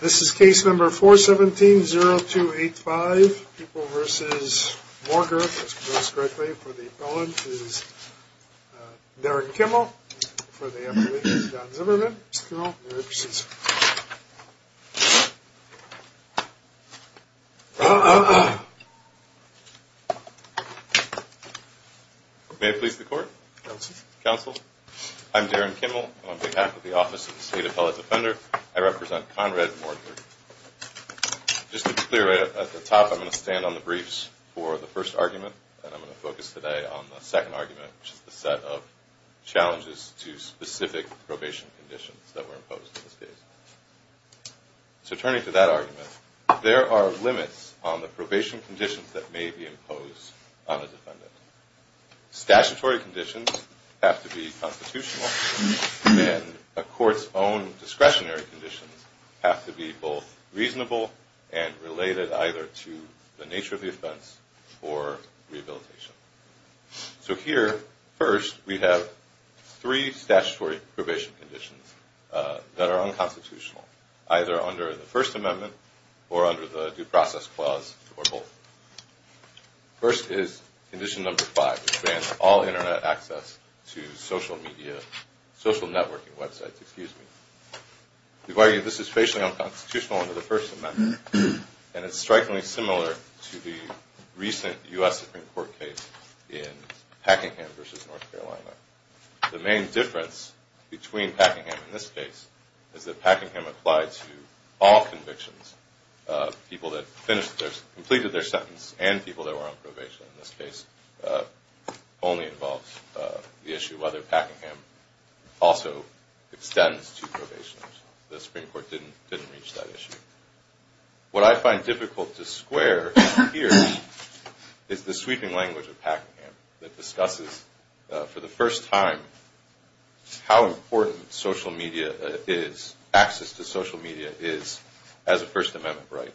This is case number 417-0285, People v. Morger, if that's pronounced correctly, for the appellant is Darren Kimmel, for the appellant is John Zimmerman, Mr. Kimmel, you may proceed, sir. May it please the court? Counsel. I'm Darren Kimmel, on behalf of the Office of the State Appellate Defender. I represent Conrad Morger. Just to be clear, at the top I'm going to stand on the briefs for the first argument, and I'm going to focus today on the second argument, which is the set of challenges to specific probation conditions that were imposed in this case. So turning to that argument, there are limits on the probation conditions that may be imposed on a defendant. Statutory conditions have to be constitutional, and a court's own discretionary conditions have to be both reasonable and related either to the nature of the offense or rehabilitation. So here, first, we have three statutory probation conditions that are unconstitutional, either under the First Amendment or under the Due Process Clause or both. First is condition number 5, which bans all Internet access to social networking websites. We argue this is spatially unconstitutional under the First Amendment, and it's strikingly similar to the recent U.S. Supreme Court case in Packingham v. North Carolina. The main difference between Packingham and this case is that Packingham applied to all convictions, people that completed their sentence and people that were on probation. In this case, it only involves the issue whether Packingham also extends to probation. The Supreme Court didn't reach that issue. What I find difficult to square here is the sweeping language of Packingham that discusses for the first time how important social media is, access to social media is, as a First Amendment right.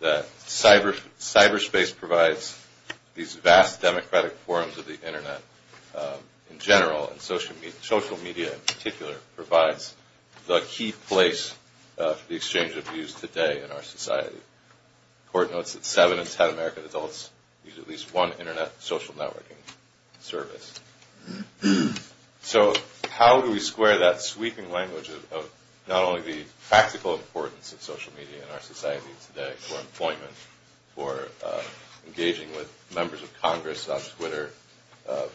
That cyberspace provides these vast democratic forms of the Internet in general, and social media in particular provides the key place for the exchange of views today in our society. The court notes that 7 in 10 American adults use at least one Internet social networking service. So how do we square that sweeping language of not only the practical importance of social media in our society today for employment, for engaging with members of Congress on Twitter,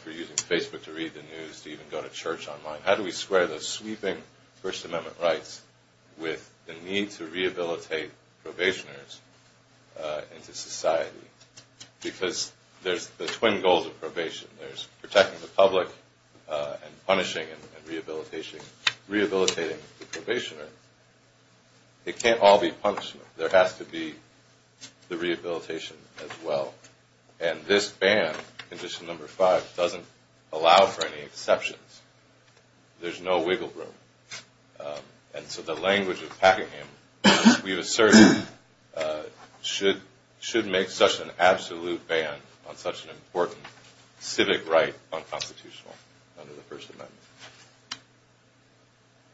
for using Facebook to read the news, to even go to church online? How do we square those sweeping First Amendment rights with the need to rehabilitate probationers into society? Because there's the twin goals of probation. There's protecting the public and punishing and rehabilitating the probationer. It can't all be punishment. There has to be the rehabilitation as well. And this ban, Condition No. 5, doesn't allow for any exceptions. There's no wiggle room. And so the language of Packingham, we've asserted, should make such an absolute ban on such an important civic right unconstitutional under the First Amendment.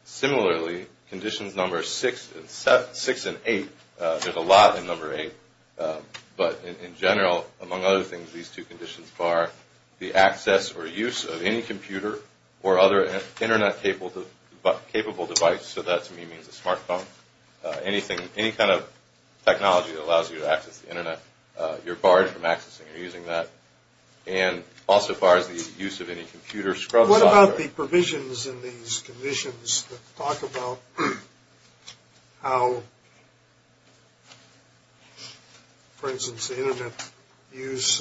Similarly, Conditions No. 6 and 8, there's a lot in No. 8, but in general, among other things, these two conditions bar the access or use of any computer or other Internet-capable device. So that, to me, means a smart phone. Any kind of technology that allows you to access the Internet, you're barred from accessing or using that. And also bars the use of any computer scrub software. But what about the provisions in these conditions that talk about how, for instance, the Internet can use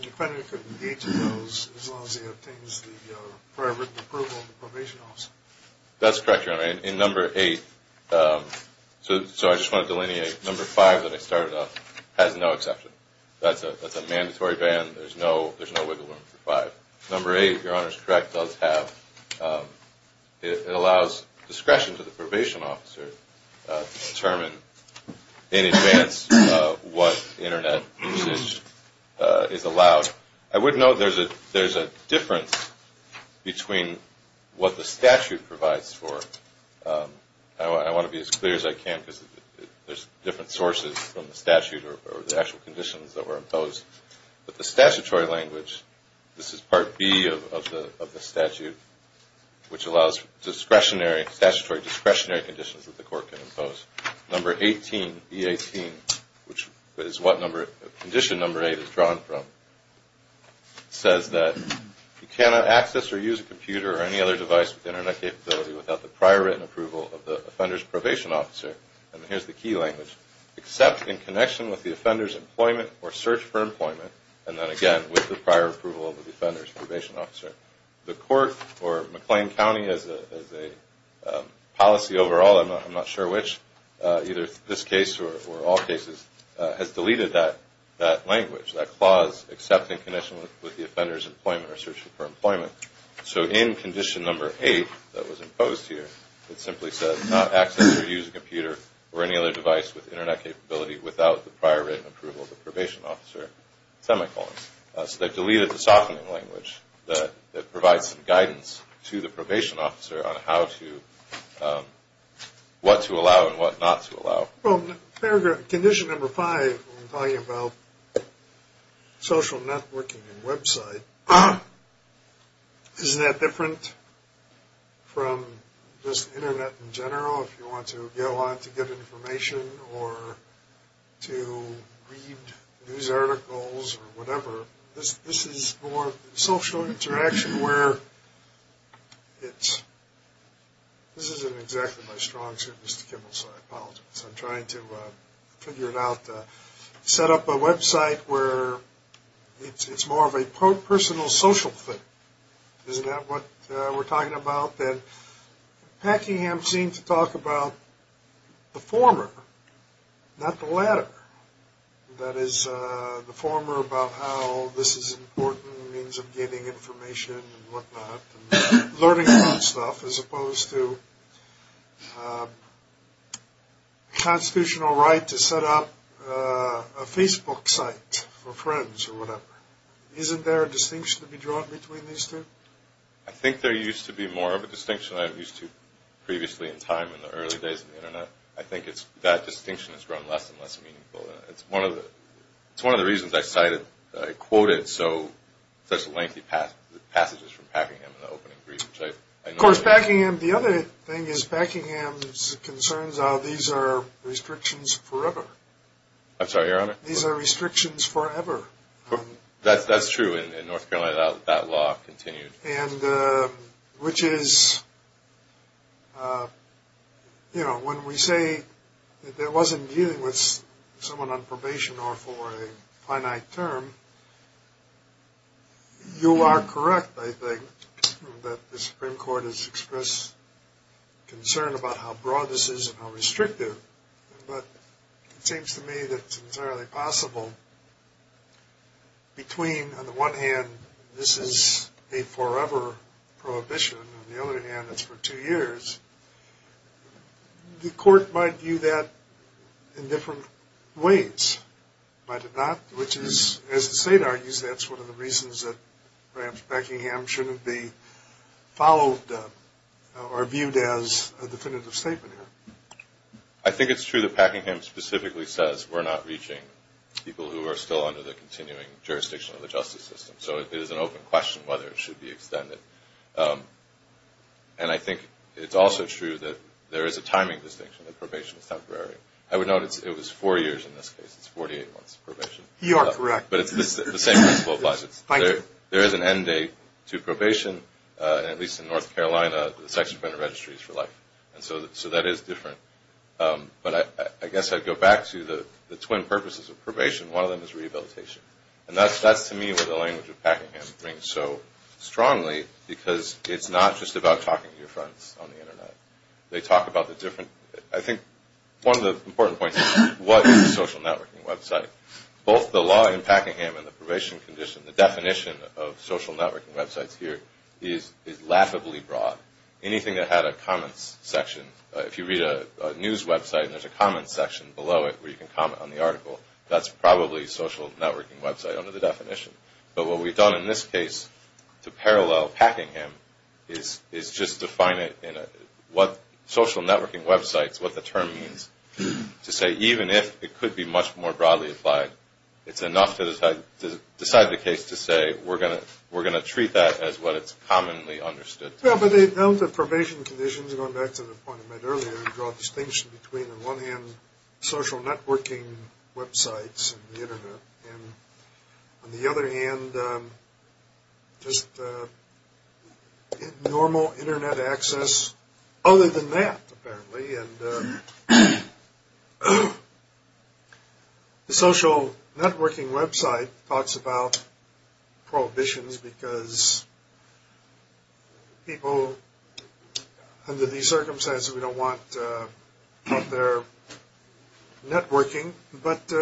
any kind of details as long as it obtains the prior written approval of the probation officer? That's correct, Your Honor. In No. 8, so I just want to delineate, No. 5 that I started off has no exception. That's a mandatory ban. There's no wiggle room for 5. No. 8, Your Honor is correct, does have. It allows discretion to the probation officer to determine in advance what Internet usage is allowed. Now, I would note there's a difference between what the statute provides for. I want to be as clear as I can because there's different sources from the statute or the actual conditions that were imposed. But the statutory language, this is Part B of the statute, which allows discretionary, statutory discretionary conditions that the court can impose. No. 18, E18, which is what condition No. 8 is drawn from, says that you cannot access or use a computer or any other device with Internet capability without the prior written approval of the offender's probation officer, and here's the key language, except in connection with the offender's employment or search for employment, and then again with the prior approval of the offender's probation officer. The court, or McLean County as a policy overall, I'm not sure which, either this case or all cases, has deleted that language, that clause except in connection with the offender's employment or search for employment. So in condition No. 8 that was imposed here, it simply says not access or use a computer or any other device with Internet capability without the prior written approval of the probation officer, semicolons. So they've deleted the softening language that provides some guidance to the probation officer on how to, what to allow and what not to allow. Well, condition No. 5 when talking about social networking and website, isn't that different from just Internet in general? This isn't exactly my strong suit, Mr. Kimball, so I apologize. I'm trying to figure it out. Set up a website where it's more of a personal social thing. Isn't that what we're talking about? But then, Packingham seemed to talk about the former, not the latter. That is, the former about how this is an important means of getting information and what not and learning new stuff as opposed to constitutional right to set up a Facebook site for friends or whatever. Isn't there a distinction to be drawn between these two? I think there used to be more of a distinction than I'm used to previously in time in the early days of the Internet. I think that distinction has grown less and less meaningful. It's one of the reasons I quoted such lengthy passages from Packingham in the opening brief. Of course, Packingham, the other thing is Packingham's concerns are these are restrictions forever. I'm sorry, Your Honor? These are restrictions forever. That's true in North Carolina. That law continued. Which is, you know, when we say there wasn't dealing with someone on probation or for a finite term, you are correct, I think, that the Supreme Court has expressed concern about how broad this is and how restrictive. But it seems to me that it's entirely possible between, on the one hand, this is a forever prohibition. On the other hand, it's for two years. The court might view that in different ways. Might it not? Which is, as the State argues, that's one of the reasons that perhaps Packingham shouldn't be followed or viewed as a definitive statement here. I think it's true that Packingham specifically says we're not reaching people who are still under the continuing jurisdiction of the justice system. So it is an open question whether it should be extended. And I think it's also true that there is a timing distinction, that probation is temporary. I would note it was four years in this case. It's 48 months probation. You are correct. But it's the same principle applies. There is an end date to probation, and at least in North Carolina, the sex offender registry is for life. So that is different. But I guess I'd go back to the twin purposes of probation. One of them is rehabilitation. And that's, to me, what the language of Packingham brings so strongly, because it's not just about talking to your friends on the Internet. They talk about the different, I think, one of the important points is what is a social networking website? Both the law in Packingham and the probation condition, the definition of social networking websites here is laughably broad. Anything that had a comments section, if you read a news website and there's a comments section below it where you can comment on the article, that's probably a social networking website under the definition. But what we've done in this case to parallel Packingham is just define it in what social networking websites, what the term means, to say even if it could be much more broadly applied, it's enough to decide the case to say we're going to treat that as what it's commonly understood to be. Well, but the probation conditions, going back to the point I made earlier, draw a distinction between, on one hand, social networking websites and the Internet, and on the other hand, just normal Internet access other than that, apparently. And the social networking website talks about prohibitions because people under these circumstances, we don't want their networking, but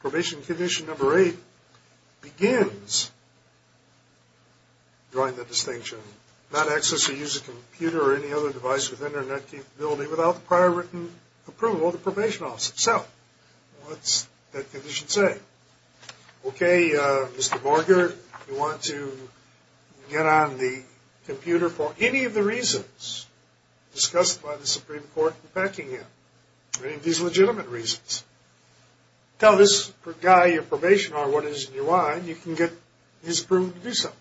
probation condition number eight begins drawing the distinction. Okay, Mr. Borger, if you want to get on the computer for any of the reasons discussed by the Supreme Court in Packingham, any of these legitimate reasons, tell this guy you're probationary on what is in your mind, you can get his approval to do so.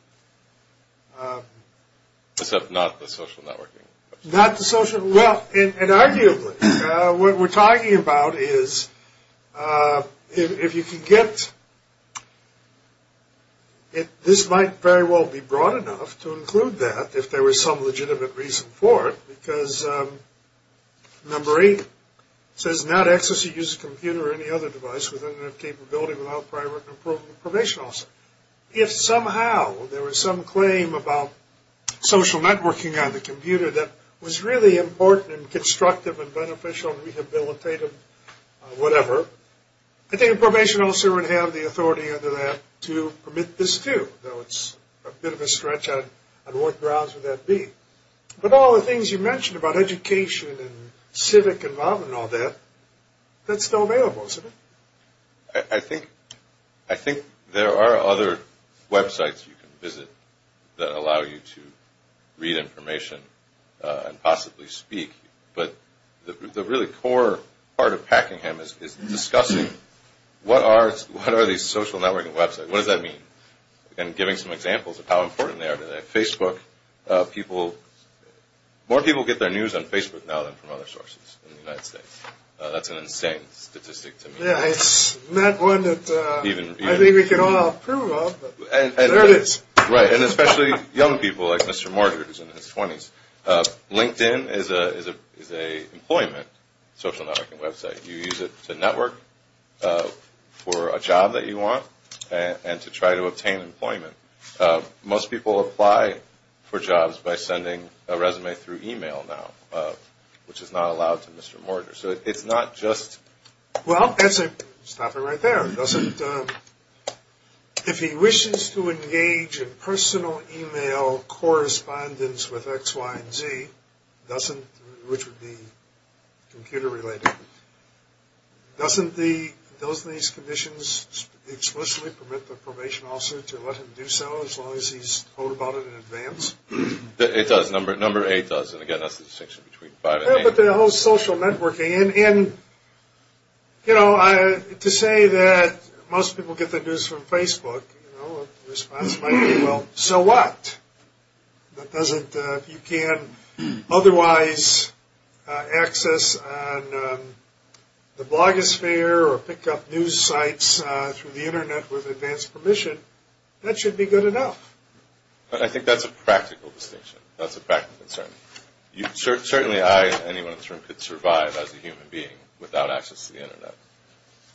Except not the social networking. Not the social, well, and arguably, what we're talking about is, if you can get, this might very well be broad enough to include that if there was some legitimate reason for it, because number eight says not access to use a computer or any other device with enough capability without prior approval from the probation officer. If somehow there was some claim about social networking on the computer that was really important and constructive and beneficial and rehabilitative, whatever, I think the probation officer would have the authority under that to permit this too, though it's a bit of a stretch on what grounds would that be. But all the things you mentioned about education and civic involvement and all that, that's still available, isn't it? I think there are other websites you can visit that allow you to read information and possibly speak, but the really core part of Packingham is discussing what are these social networking websites? What does that mean? And giving some examples of how important they are today. Facebook, people, more people get their news on Facebook now than from other sources in the United States. That's an insane statistic to me. Yeah, it's not one that I think we can all approve of, but there it is. Right, and especially young people like Mr. Morgard in his 20s. LinkedIn is an employment social networking website. You use it to network for a job that you want and to try to obtain employment. Most people apply for jobs by sending a resume through email now, which is not allowed to Mr. Morgard. Well, that's it. Stop it right there. If he wishes to engage in personal email correspondence with X, Y, and Z, which would be computer related, doesn't these conditions explicitly permit the probation officer to let him do so as long as he's told about it in advance? It does. Number 8 does. Again, that's the distinction between 5 and 8. You put the whole social networking, and to say that most people get the news from Facebook, the response might be, well, so what? If you can't otherwise access the blogosphere or pick up news sites through the Internet with advanced permission, that should be good enough. I think that's a practical distinction. That's a practical concern. Certainly I and anyone in this room could survive as a human being without access to the Internet.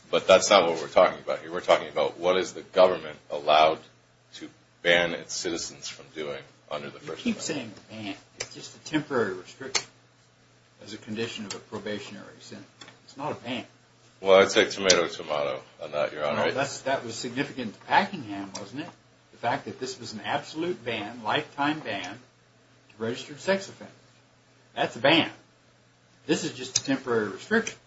But that's not what we're talking about here. We're talking about what is the government allowed to ban its citizens from doing under the First Amendment. You keep saying ban. It's just a temporary restriction as a condition of a probationary sentence. It's not a ban. Well, I take tomato tomato on that, Your Honor. That was significant to Packingham, wasn't it? The fact that this was an absolute ban, lifetime ban, registered sex offenders. That's a ban. This is just a temporary restriction.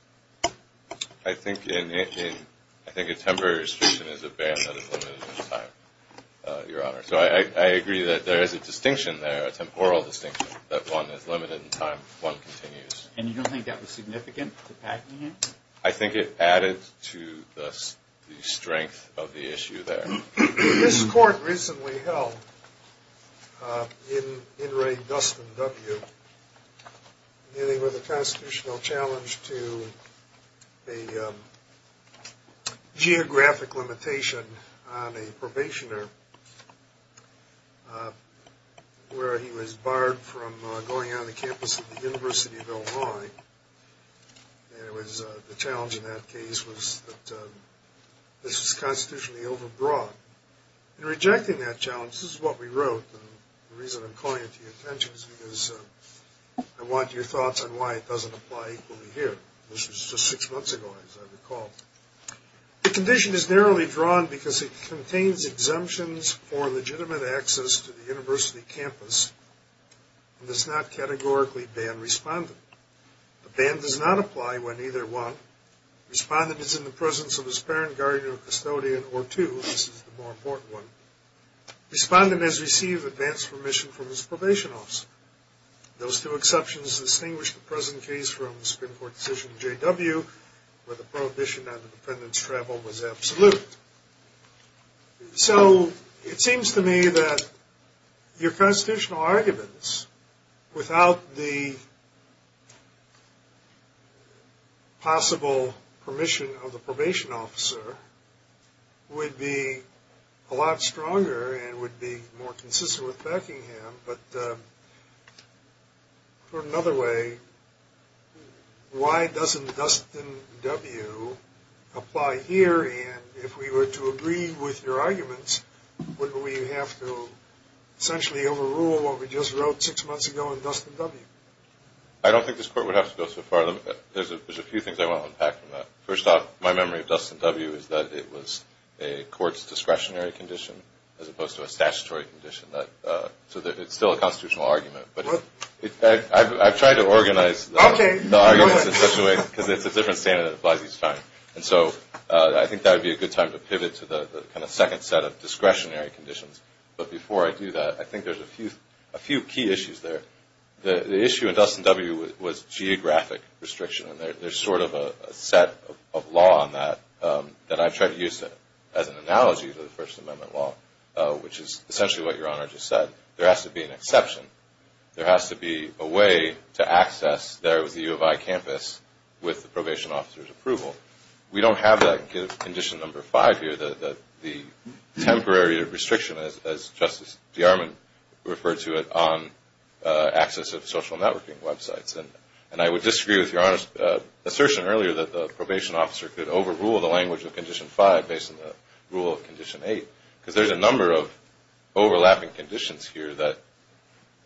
I think a temporary restriction is a ban that is limited in time, Your Honor. So I agree that there is a distinction there, a temporal distinction, that one is limited in time, one continues. And you don't think that was significant to Packingham? I think it added to the strength of the issue there. This court recently held, in Ray Dustin W., dealing with a constitutional challenge to a geographic limitation on a probationer where he was barred from going on the campus of the University of Illinois. And the challenge in that case was that this was constitutionally overbroad. In rejecting that challenge, this is what we wrote. The reason I'm calling it to your attention is because I want your thoughts on why it doesn't apply equally here. This was just six months ago, as I recall. The condition is narrowly drawn because it contains exemptions for legitimate access to the university campus and does not categorically ban respondent. The ban does not apply when either one, respondent is in the presence of his parent, guardian, or custodian, or two, this is the more important one, respondent has received advance permission from his probation office. Those two exceptions distinguish the present case from the Supreme Court decision in J.W. where the prohibition on the defendant's travel was absolute. So, it seems to me that your constitutional arguments, without the possible permission of the probation officer, would be a lot stronger and would be more consistent with Beckingham, but for another way, why doesn't Dustin W. apply here and if we were to agree with your arguments, would we have to essentially overrule what we just wrote six months ago in Dustin W.? I don't think this court would have to go so far. There's a few things I want to unpack from that. First off, my memory of Dustin W. is that it was a court's discretionary condition as opposed to a statutory condition. So, it's still a constitutional argument, but I've tried to organize the arguments in such a way, because it's a different standard that applies each time. And so, I think that would be a good time to pivot to the second set of discretionary conditions. But before I do that, I think there's a few key issues there. The issue in Dustin W. was geographic restriction, and there's sort of a set of law on that that I've tried to use as an analogy to the First Amendment law, which is essentially what your Honor just said. There has to be an exception. There has to be a way to access the U of I campus with the probation officer's approval. We don't have that in Condition No. 5 here, the temporary restriction, as Justice DeArmond referred to it, on access of social networking websites. And I would disagree with your Honor's assertion earlier that the probation officer could overrule the language of Condition 5 based on the rule of Condition 8, because there's a number of overlapping conditions here that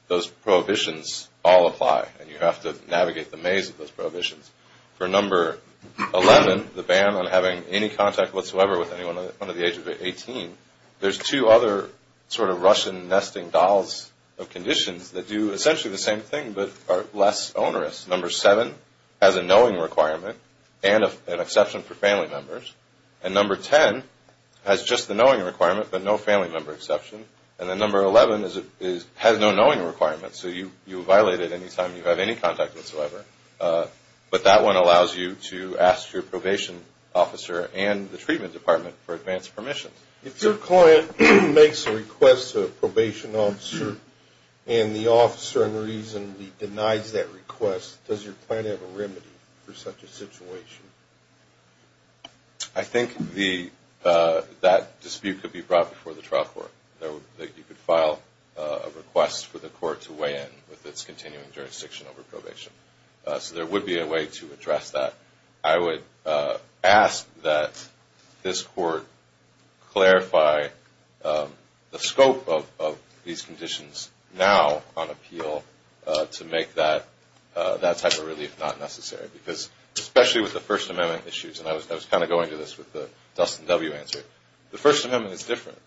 those prohibitions all apply, and you have to navigate the maze of those prohibitions. For No. 11, the ban on having any contact whatsoever with anyone under the age of 18, there's two other sort of Russian nesting dolls of conditions that do essentially the same thing but are less onerous. No. 7 has a knowing requirement and an exception for family members, and No. 10 has just the knowing requirement but no family member exception, and then No. 11 has no knowing requirement, so you violate it any time you have any contact whatsoever. But that one allows you to ask your probation officer and the treatment department for advanced permissions. If your client makes a request to a probation officer and the officer unreasonably denies that request, does your client have a remedy for such a situation? I think that dispute could be brought before the trial court, that you could file a request for the court to weigh in with its continuing jurisdiction over probation. So there would be a way to address that. I would ask that this court clarify the scope of these conditions now on appeal to make that type of relief not necessary, because especially with the First Amendment issues, and I was kind of going to this with the Dustin W. answer, the First Amendment is different.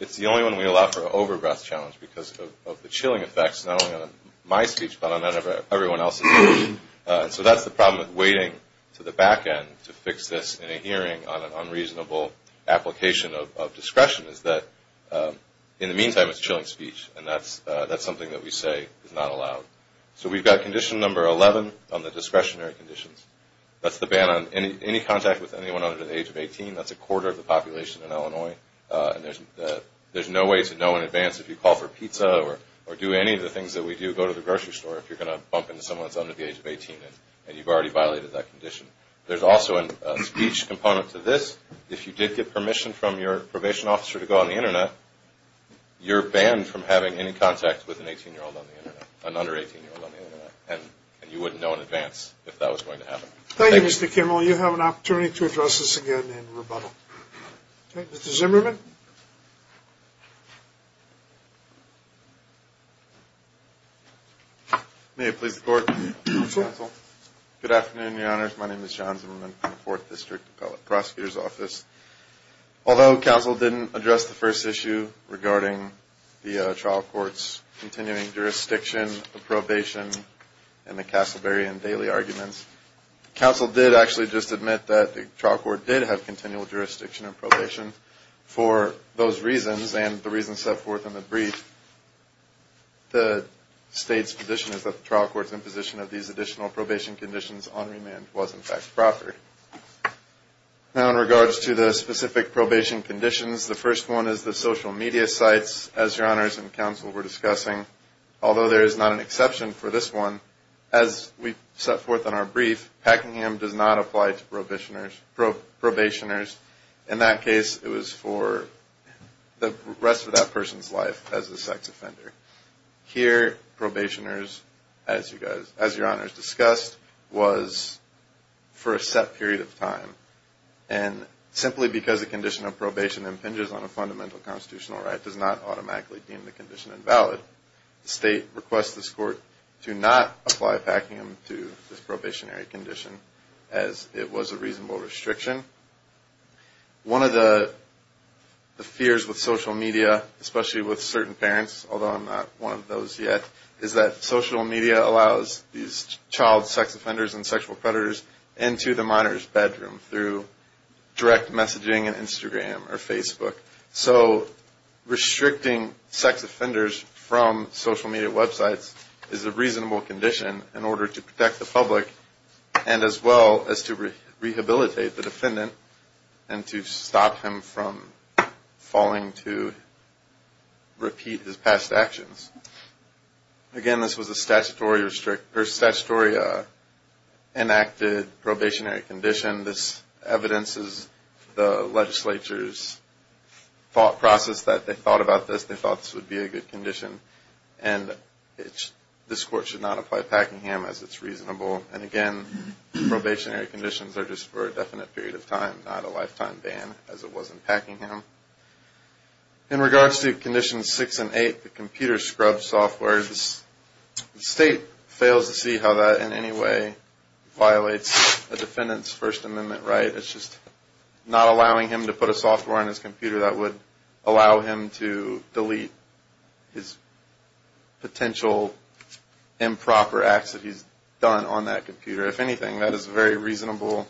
It's the only one we allow for an over-breath challenge because of the chilling effects, not only on my speech but on everyone else's speech. So that's the problem with waiting to the back end to fix this in a hearing on an unreasonable application of discretion, is that in the meantime it's chilling speech, and that's something that we say is not allowed. So we've got Condition No. 11 on the discretionary conditions. That's the ban on any contact with anyone under the age of 18. That's a quarter of the population in Illinois. There's no way to know in advance if you call for pizza or do any of the things that we do, go to the grocery store if you're going to bump into someone that's under the age of 18, and you've already violated that condition. There's also a speech component to this. If you did get permission from your probation officer to go on the Internet, you're banned from having any contact with an under-18-year-old on the Internet, and you wouldn't know in advance if that was going to happen. Thank you, Mr. Kimmel. You have an opportunity to address this again in rebuttal. Mr. Zimmerman. May it please the Court, Counsel. Good afternoon, Your Honors. My name is John Zimmerman from the Fourth District Appellate Prosecutor's Office. Although Counsel didn't address the first issue regarding the trial court's continuing jurisdiction, the probation, and the Castleberry and Daly arguments, Counsel did actually just admit that the trial court did have continual jurisdiction in probation. For those reasons, and the reasons set forth in the brief, the State's position is that the trial court's imposition of these additional probation conditions on remand was, in fact, proper. Now in regards to the specific probation conditions, the first one is the social media sites, as Your Honors and Counsel were discussing. Although there is not an exception for this one, as we set forth in our brief, Packingham does not apply to probationers. In that case, it was for the rest of that person's life as a sex offender. Here, probationers, as Your Honors discussed, was for a set period of time. And simply because the condition of probation impinges on a fundamental constitutional right does not automatically deem the condition invalid. The State requests this court to not apply Packingham to this probationary condition, as it was a reasonable restriction. One of the fears with social media, especially with certain parents, although I'm not one of those yet, is that social media allows these child sex offenders and sexual predators into the monitor's bedroom through direct messaging on Instagram or Facebook. So restricting sex offenders from social media websites is a reasonable condition in order to protect the public, and as well as to rehabilitate the defendant and to stop him from falling to repeat his past actions. Again, this was a statutory enacted probationary condition. This evidences the legislature's thought process that they thought about this. They thought this would be a good condition, and this court should not apply Packingham, as it's reasonable. And again, probationary conditions are just for a definite period of time, not a lifetime ban, as it was in Packingham. In regards to Conditions 6 and 8, the computer scrub software, the State fails to see how that in any way violates a defendant's First Amendment right. It's just not allowing him to put a software on his computer that would allow him to delete his potential improper acts that he's done on that computer. If anything, that is a very reasonable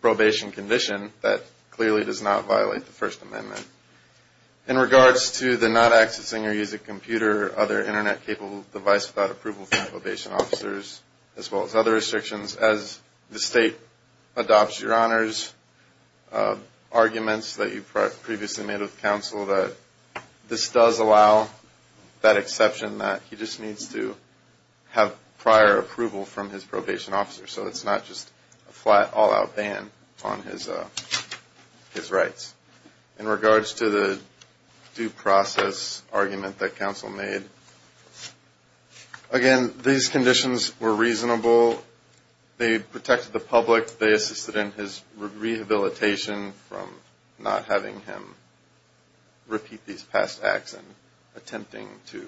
probation condition that clearly does not violate the First Amendment. In regards to the not accessing or using computer or other Internet-capable device without approval from probation officers, as well as other restrictions, as the State adopts your honors, arguments that you previously made with counsel that this does allow that exception, that he just needs to have prior approval from his probation officer, so it's not just a flat, all-out ban on his rights. In regards to the due process argument that counsel made, again, these conditions were reasonable. They protected the public. They assisted in his rehabilitation from not having him repeat these past acts and attempting to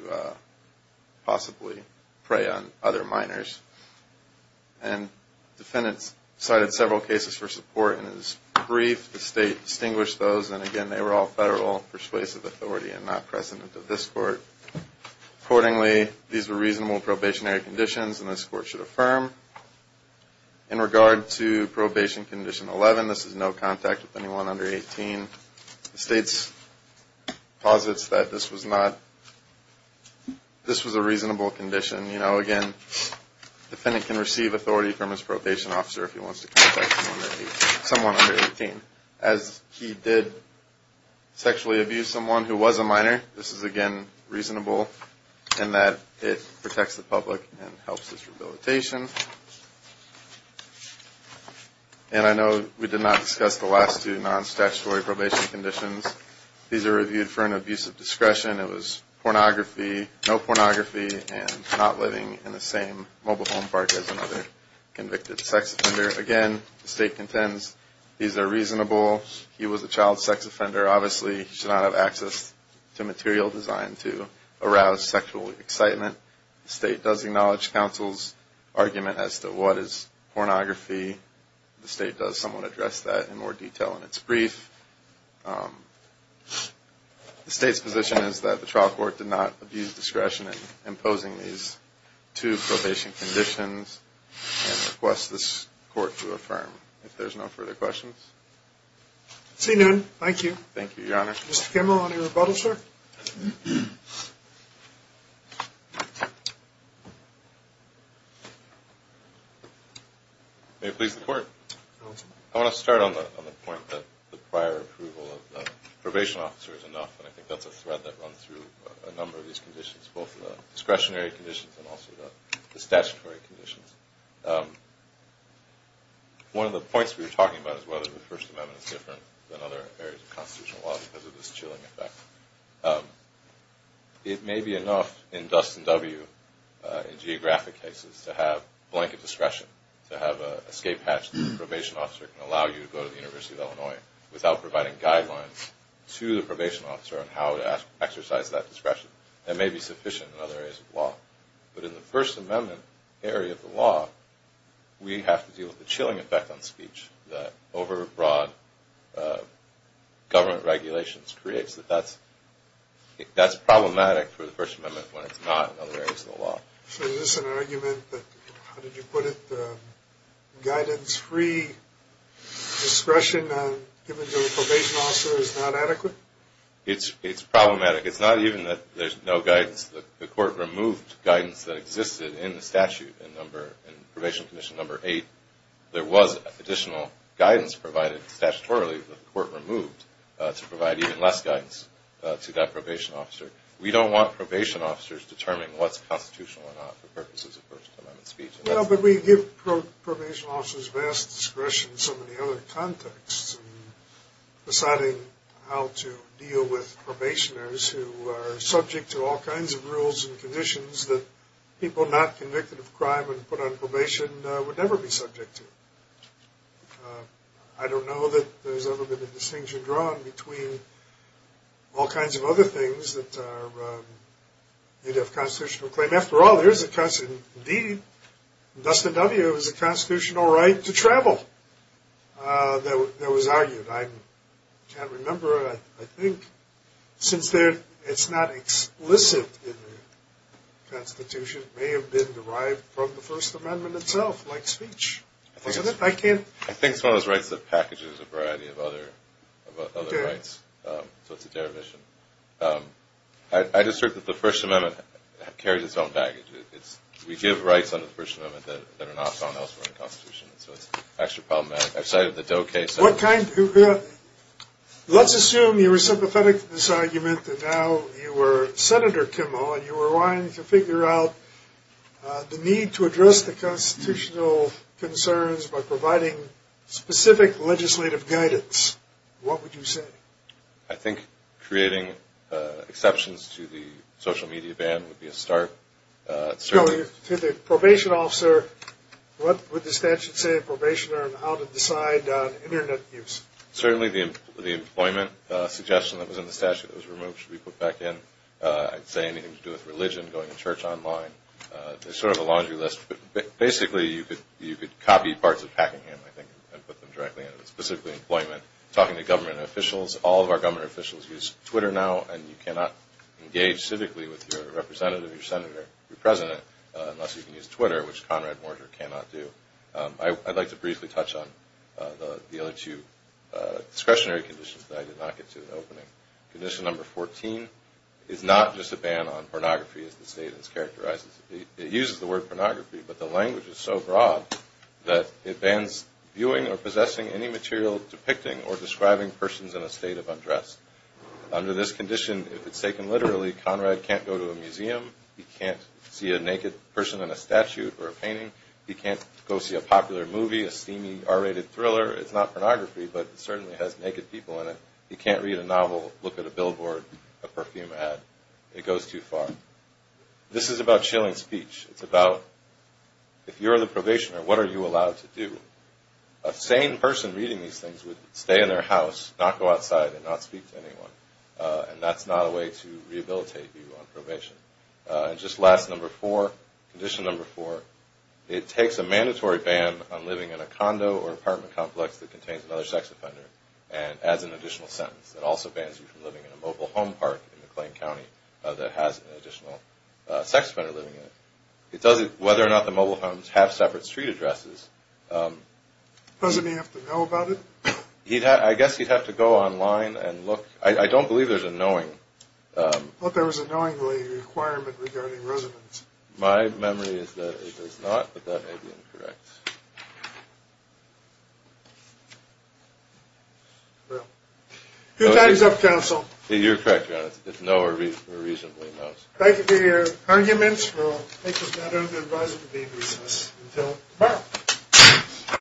possibly prey on other minors. Defendants cited several cases for support in his brief. The State distinguished those, and again, they were all federal persuasive authority and not precedent of this Court. Accordingly, these were reasonable probationary conditions, and this Court should affirm. In regard to Probation Condition 11, this is no contact with anyone under 18. The State posits that this was a reasonable condition. Again, defendant can receive authority from his probation officer if he wants to contact someone under 18. As he did sexually abuse someone who was a minor, this is, again, reasonable in that it protects the public and helps his rehabilitation. And I know we did not discuss the last two non-statutory probation conditions. These are reviewed for an abuse of discretion. It was pornography, no pornography, and not living in the same mobile home park as another convicted sex offender. Again, the State contends these are reasonable. He was a child sex offender. Obviously, he should not have access to material designed to arouse sexual excitement. The State does acknowledge counsel's argument as to what is pornography. The State does somewhat address that in more detail in its brief. The State's position is that the trial court did not abuse discretion in imposing these two probation conditions, and requests this Court to affirm. If there's no further questions? See none. Thank you. Thank you, Your Honor. Mr. Kimmel, any rebuttals, sir? May it please the Court. I want to start on the point that the prior approval of the probation officer is enough, and I think that's a thread that runs through a number of these conditions, both the discretionary conditions and also the statutory conditions. One of the points we were talking about is whether the First Amendment is different than other areas of constitutional law because of this chilling effect. It may be enough in Dustin W. in geographic cases to have blanket discretion, to have an escape hatch that the probation officer can allow you to go to the University of Illinois without providing guidelines to the probation officer on how to exercise that discretion. That may be sufficient in other areas of law. But in the First Amendment area of the law, we have to deal with the chilling effect on speech that over-broad government regulations creates. That's problematic for the First Amendment when it's not in other areas of the law. So is this an argument that, how did you put it, guidance-free discretion given to the probation officer is not adequate? It's problematic. It's not even that there's no guidance. The Court removed guidance that existed in the statute in Probation Condition Number 8. There was additional guidance provided statutorily, but the Court removed to provide even less guidance to that probation officer. We don't want probation officers determining what's constitutional or not for purposes of First Amendment speech. But we give probation officers vast discretion in so many other contexts. Deciding how to deal with probationers who are subject to all kinds of rules and conditions that people not convicted of crime and put on probation would never be subject to. I don't know that there's ever been a distinction drawn between all kinds of other things that are, you'd have constitutional claim. After all, there is a, indeed, in Dustin W., there was a constitutional right to travel that was argued. I can't remember. I think since it's not explicit in the Constitution, it may have been derived from the First Amendment itself, like speech. Wasn't it? I think it's one of those rights that packages a variety of other rights. So it's a derivation. I just think that the First Amendment carries its own baggage. We give rights under the First Amendment that are not found elsewhere in the Constitution. So it's actually problematic. I cited the Doe case. Let's assume you were sympathetic to this argument and now you were Senator Kimmel and you were wanting to figure out the need to address the constitutional concerns by providing specific legislative guidance. What would you say? I think creating exceptions to the social media ban would be a start. To the probation officer, what would the statute say in probation on how to decide on Internet use? Certainly the employment suggestion that was in the statute that was removed should be put back in. I'd say anything to do with religion, going to church online. There's sort of a laundry list. Basically, you could copy parts of Packingham, I think, and put them directly in. Specifically employment. Talking to government officials. All of our government officials use Twitter now and you cannot engage civically with your representative, your senator, your president, unless you can use Twitter, which Conrad Morger cannot do. I'd like to briefly touch on the other two discretionary conditions that I did not get to in the opening. Condition number 14 is not just a ban on pornography as the state has characterized it. It uses the word pornography, but the language is so broad that it bans viewing or possessing any material depicting or describing persons in a state of undress. Under this condition, if it's taken literally, Conrad can't go to a museum. He can't see a naked person in a statute or a painting. He can't go see a popular movie, a steamy R-rated thriller. It's not pornography, but it certainly has naked people in it. He can't read a novel, look at a billboard, a perfume ad. It goes too far. This is about chilling speech. It's about if you're the probationer, what are you allowed to do? A sane person reading these things would stay in their house, not go outside, and not speak to anyone. And that's not a way to rehabilitate you on probation. And just last, number four, condition number four, it takes a mandatory ban on living in a condo or apartment complex that contains another sex offender and adds an additional sentence. It also bans you from living in a mobile home park in McLean County that has an additional sex offender living in it. It tells you whether or not the mobile homes have separate street addresses. Doesn't he have to know about it? I guess he'd have to go online and look. I don't believe there's a knowing. I thought there was a knowingly requirement regarding residence. My memory is that it does not, but that may be incorrect. Well, good times up, counsel. You're correct, Your Honor. It's no or reasonably no. Thank you for your arguments. We'll make this matter of the advisory to be recessed until tomorrow.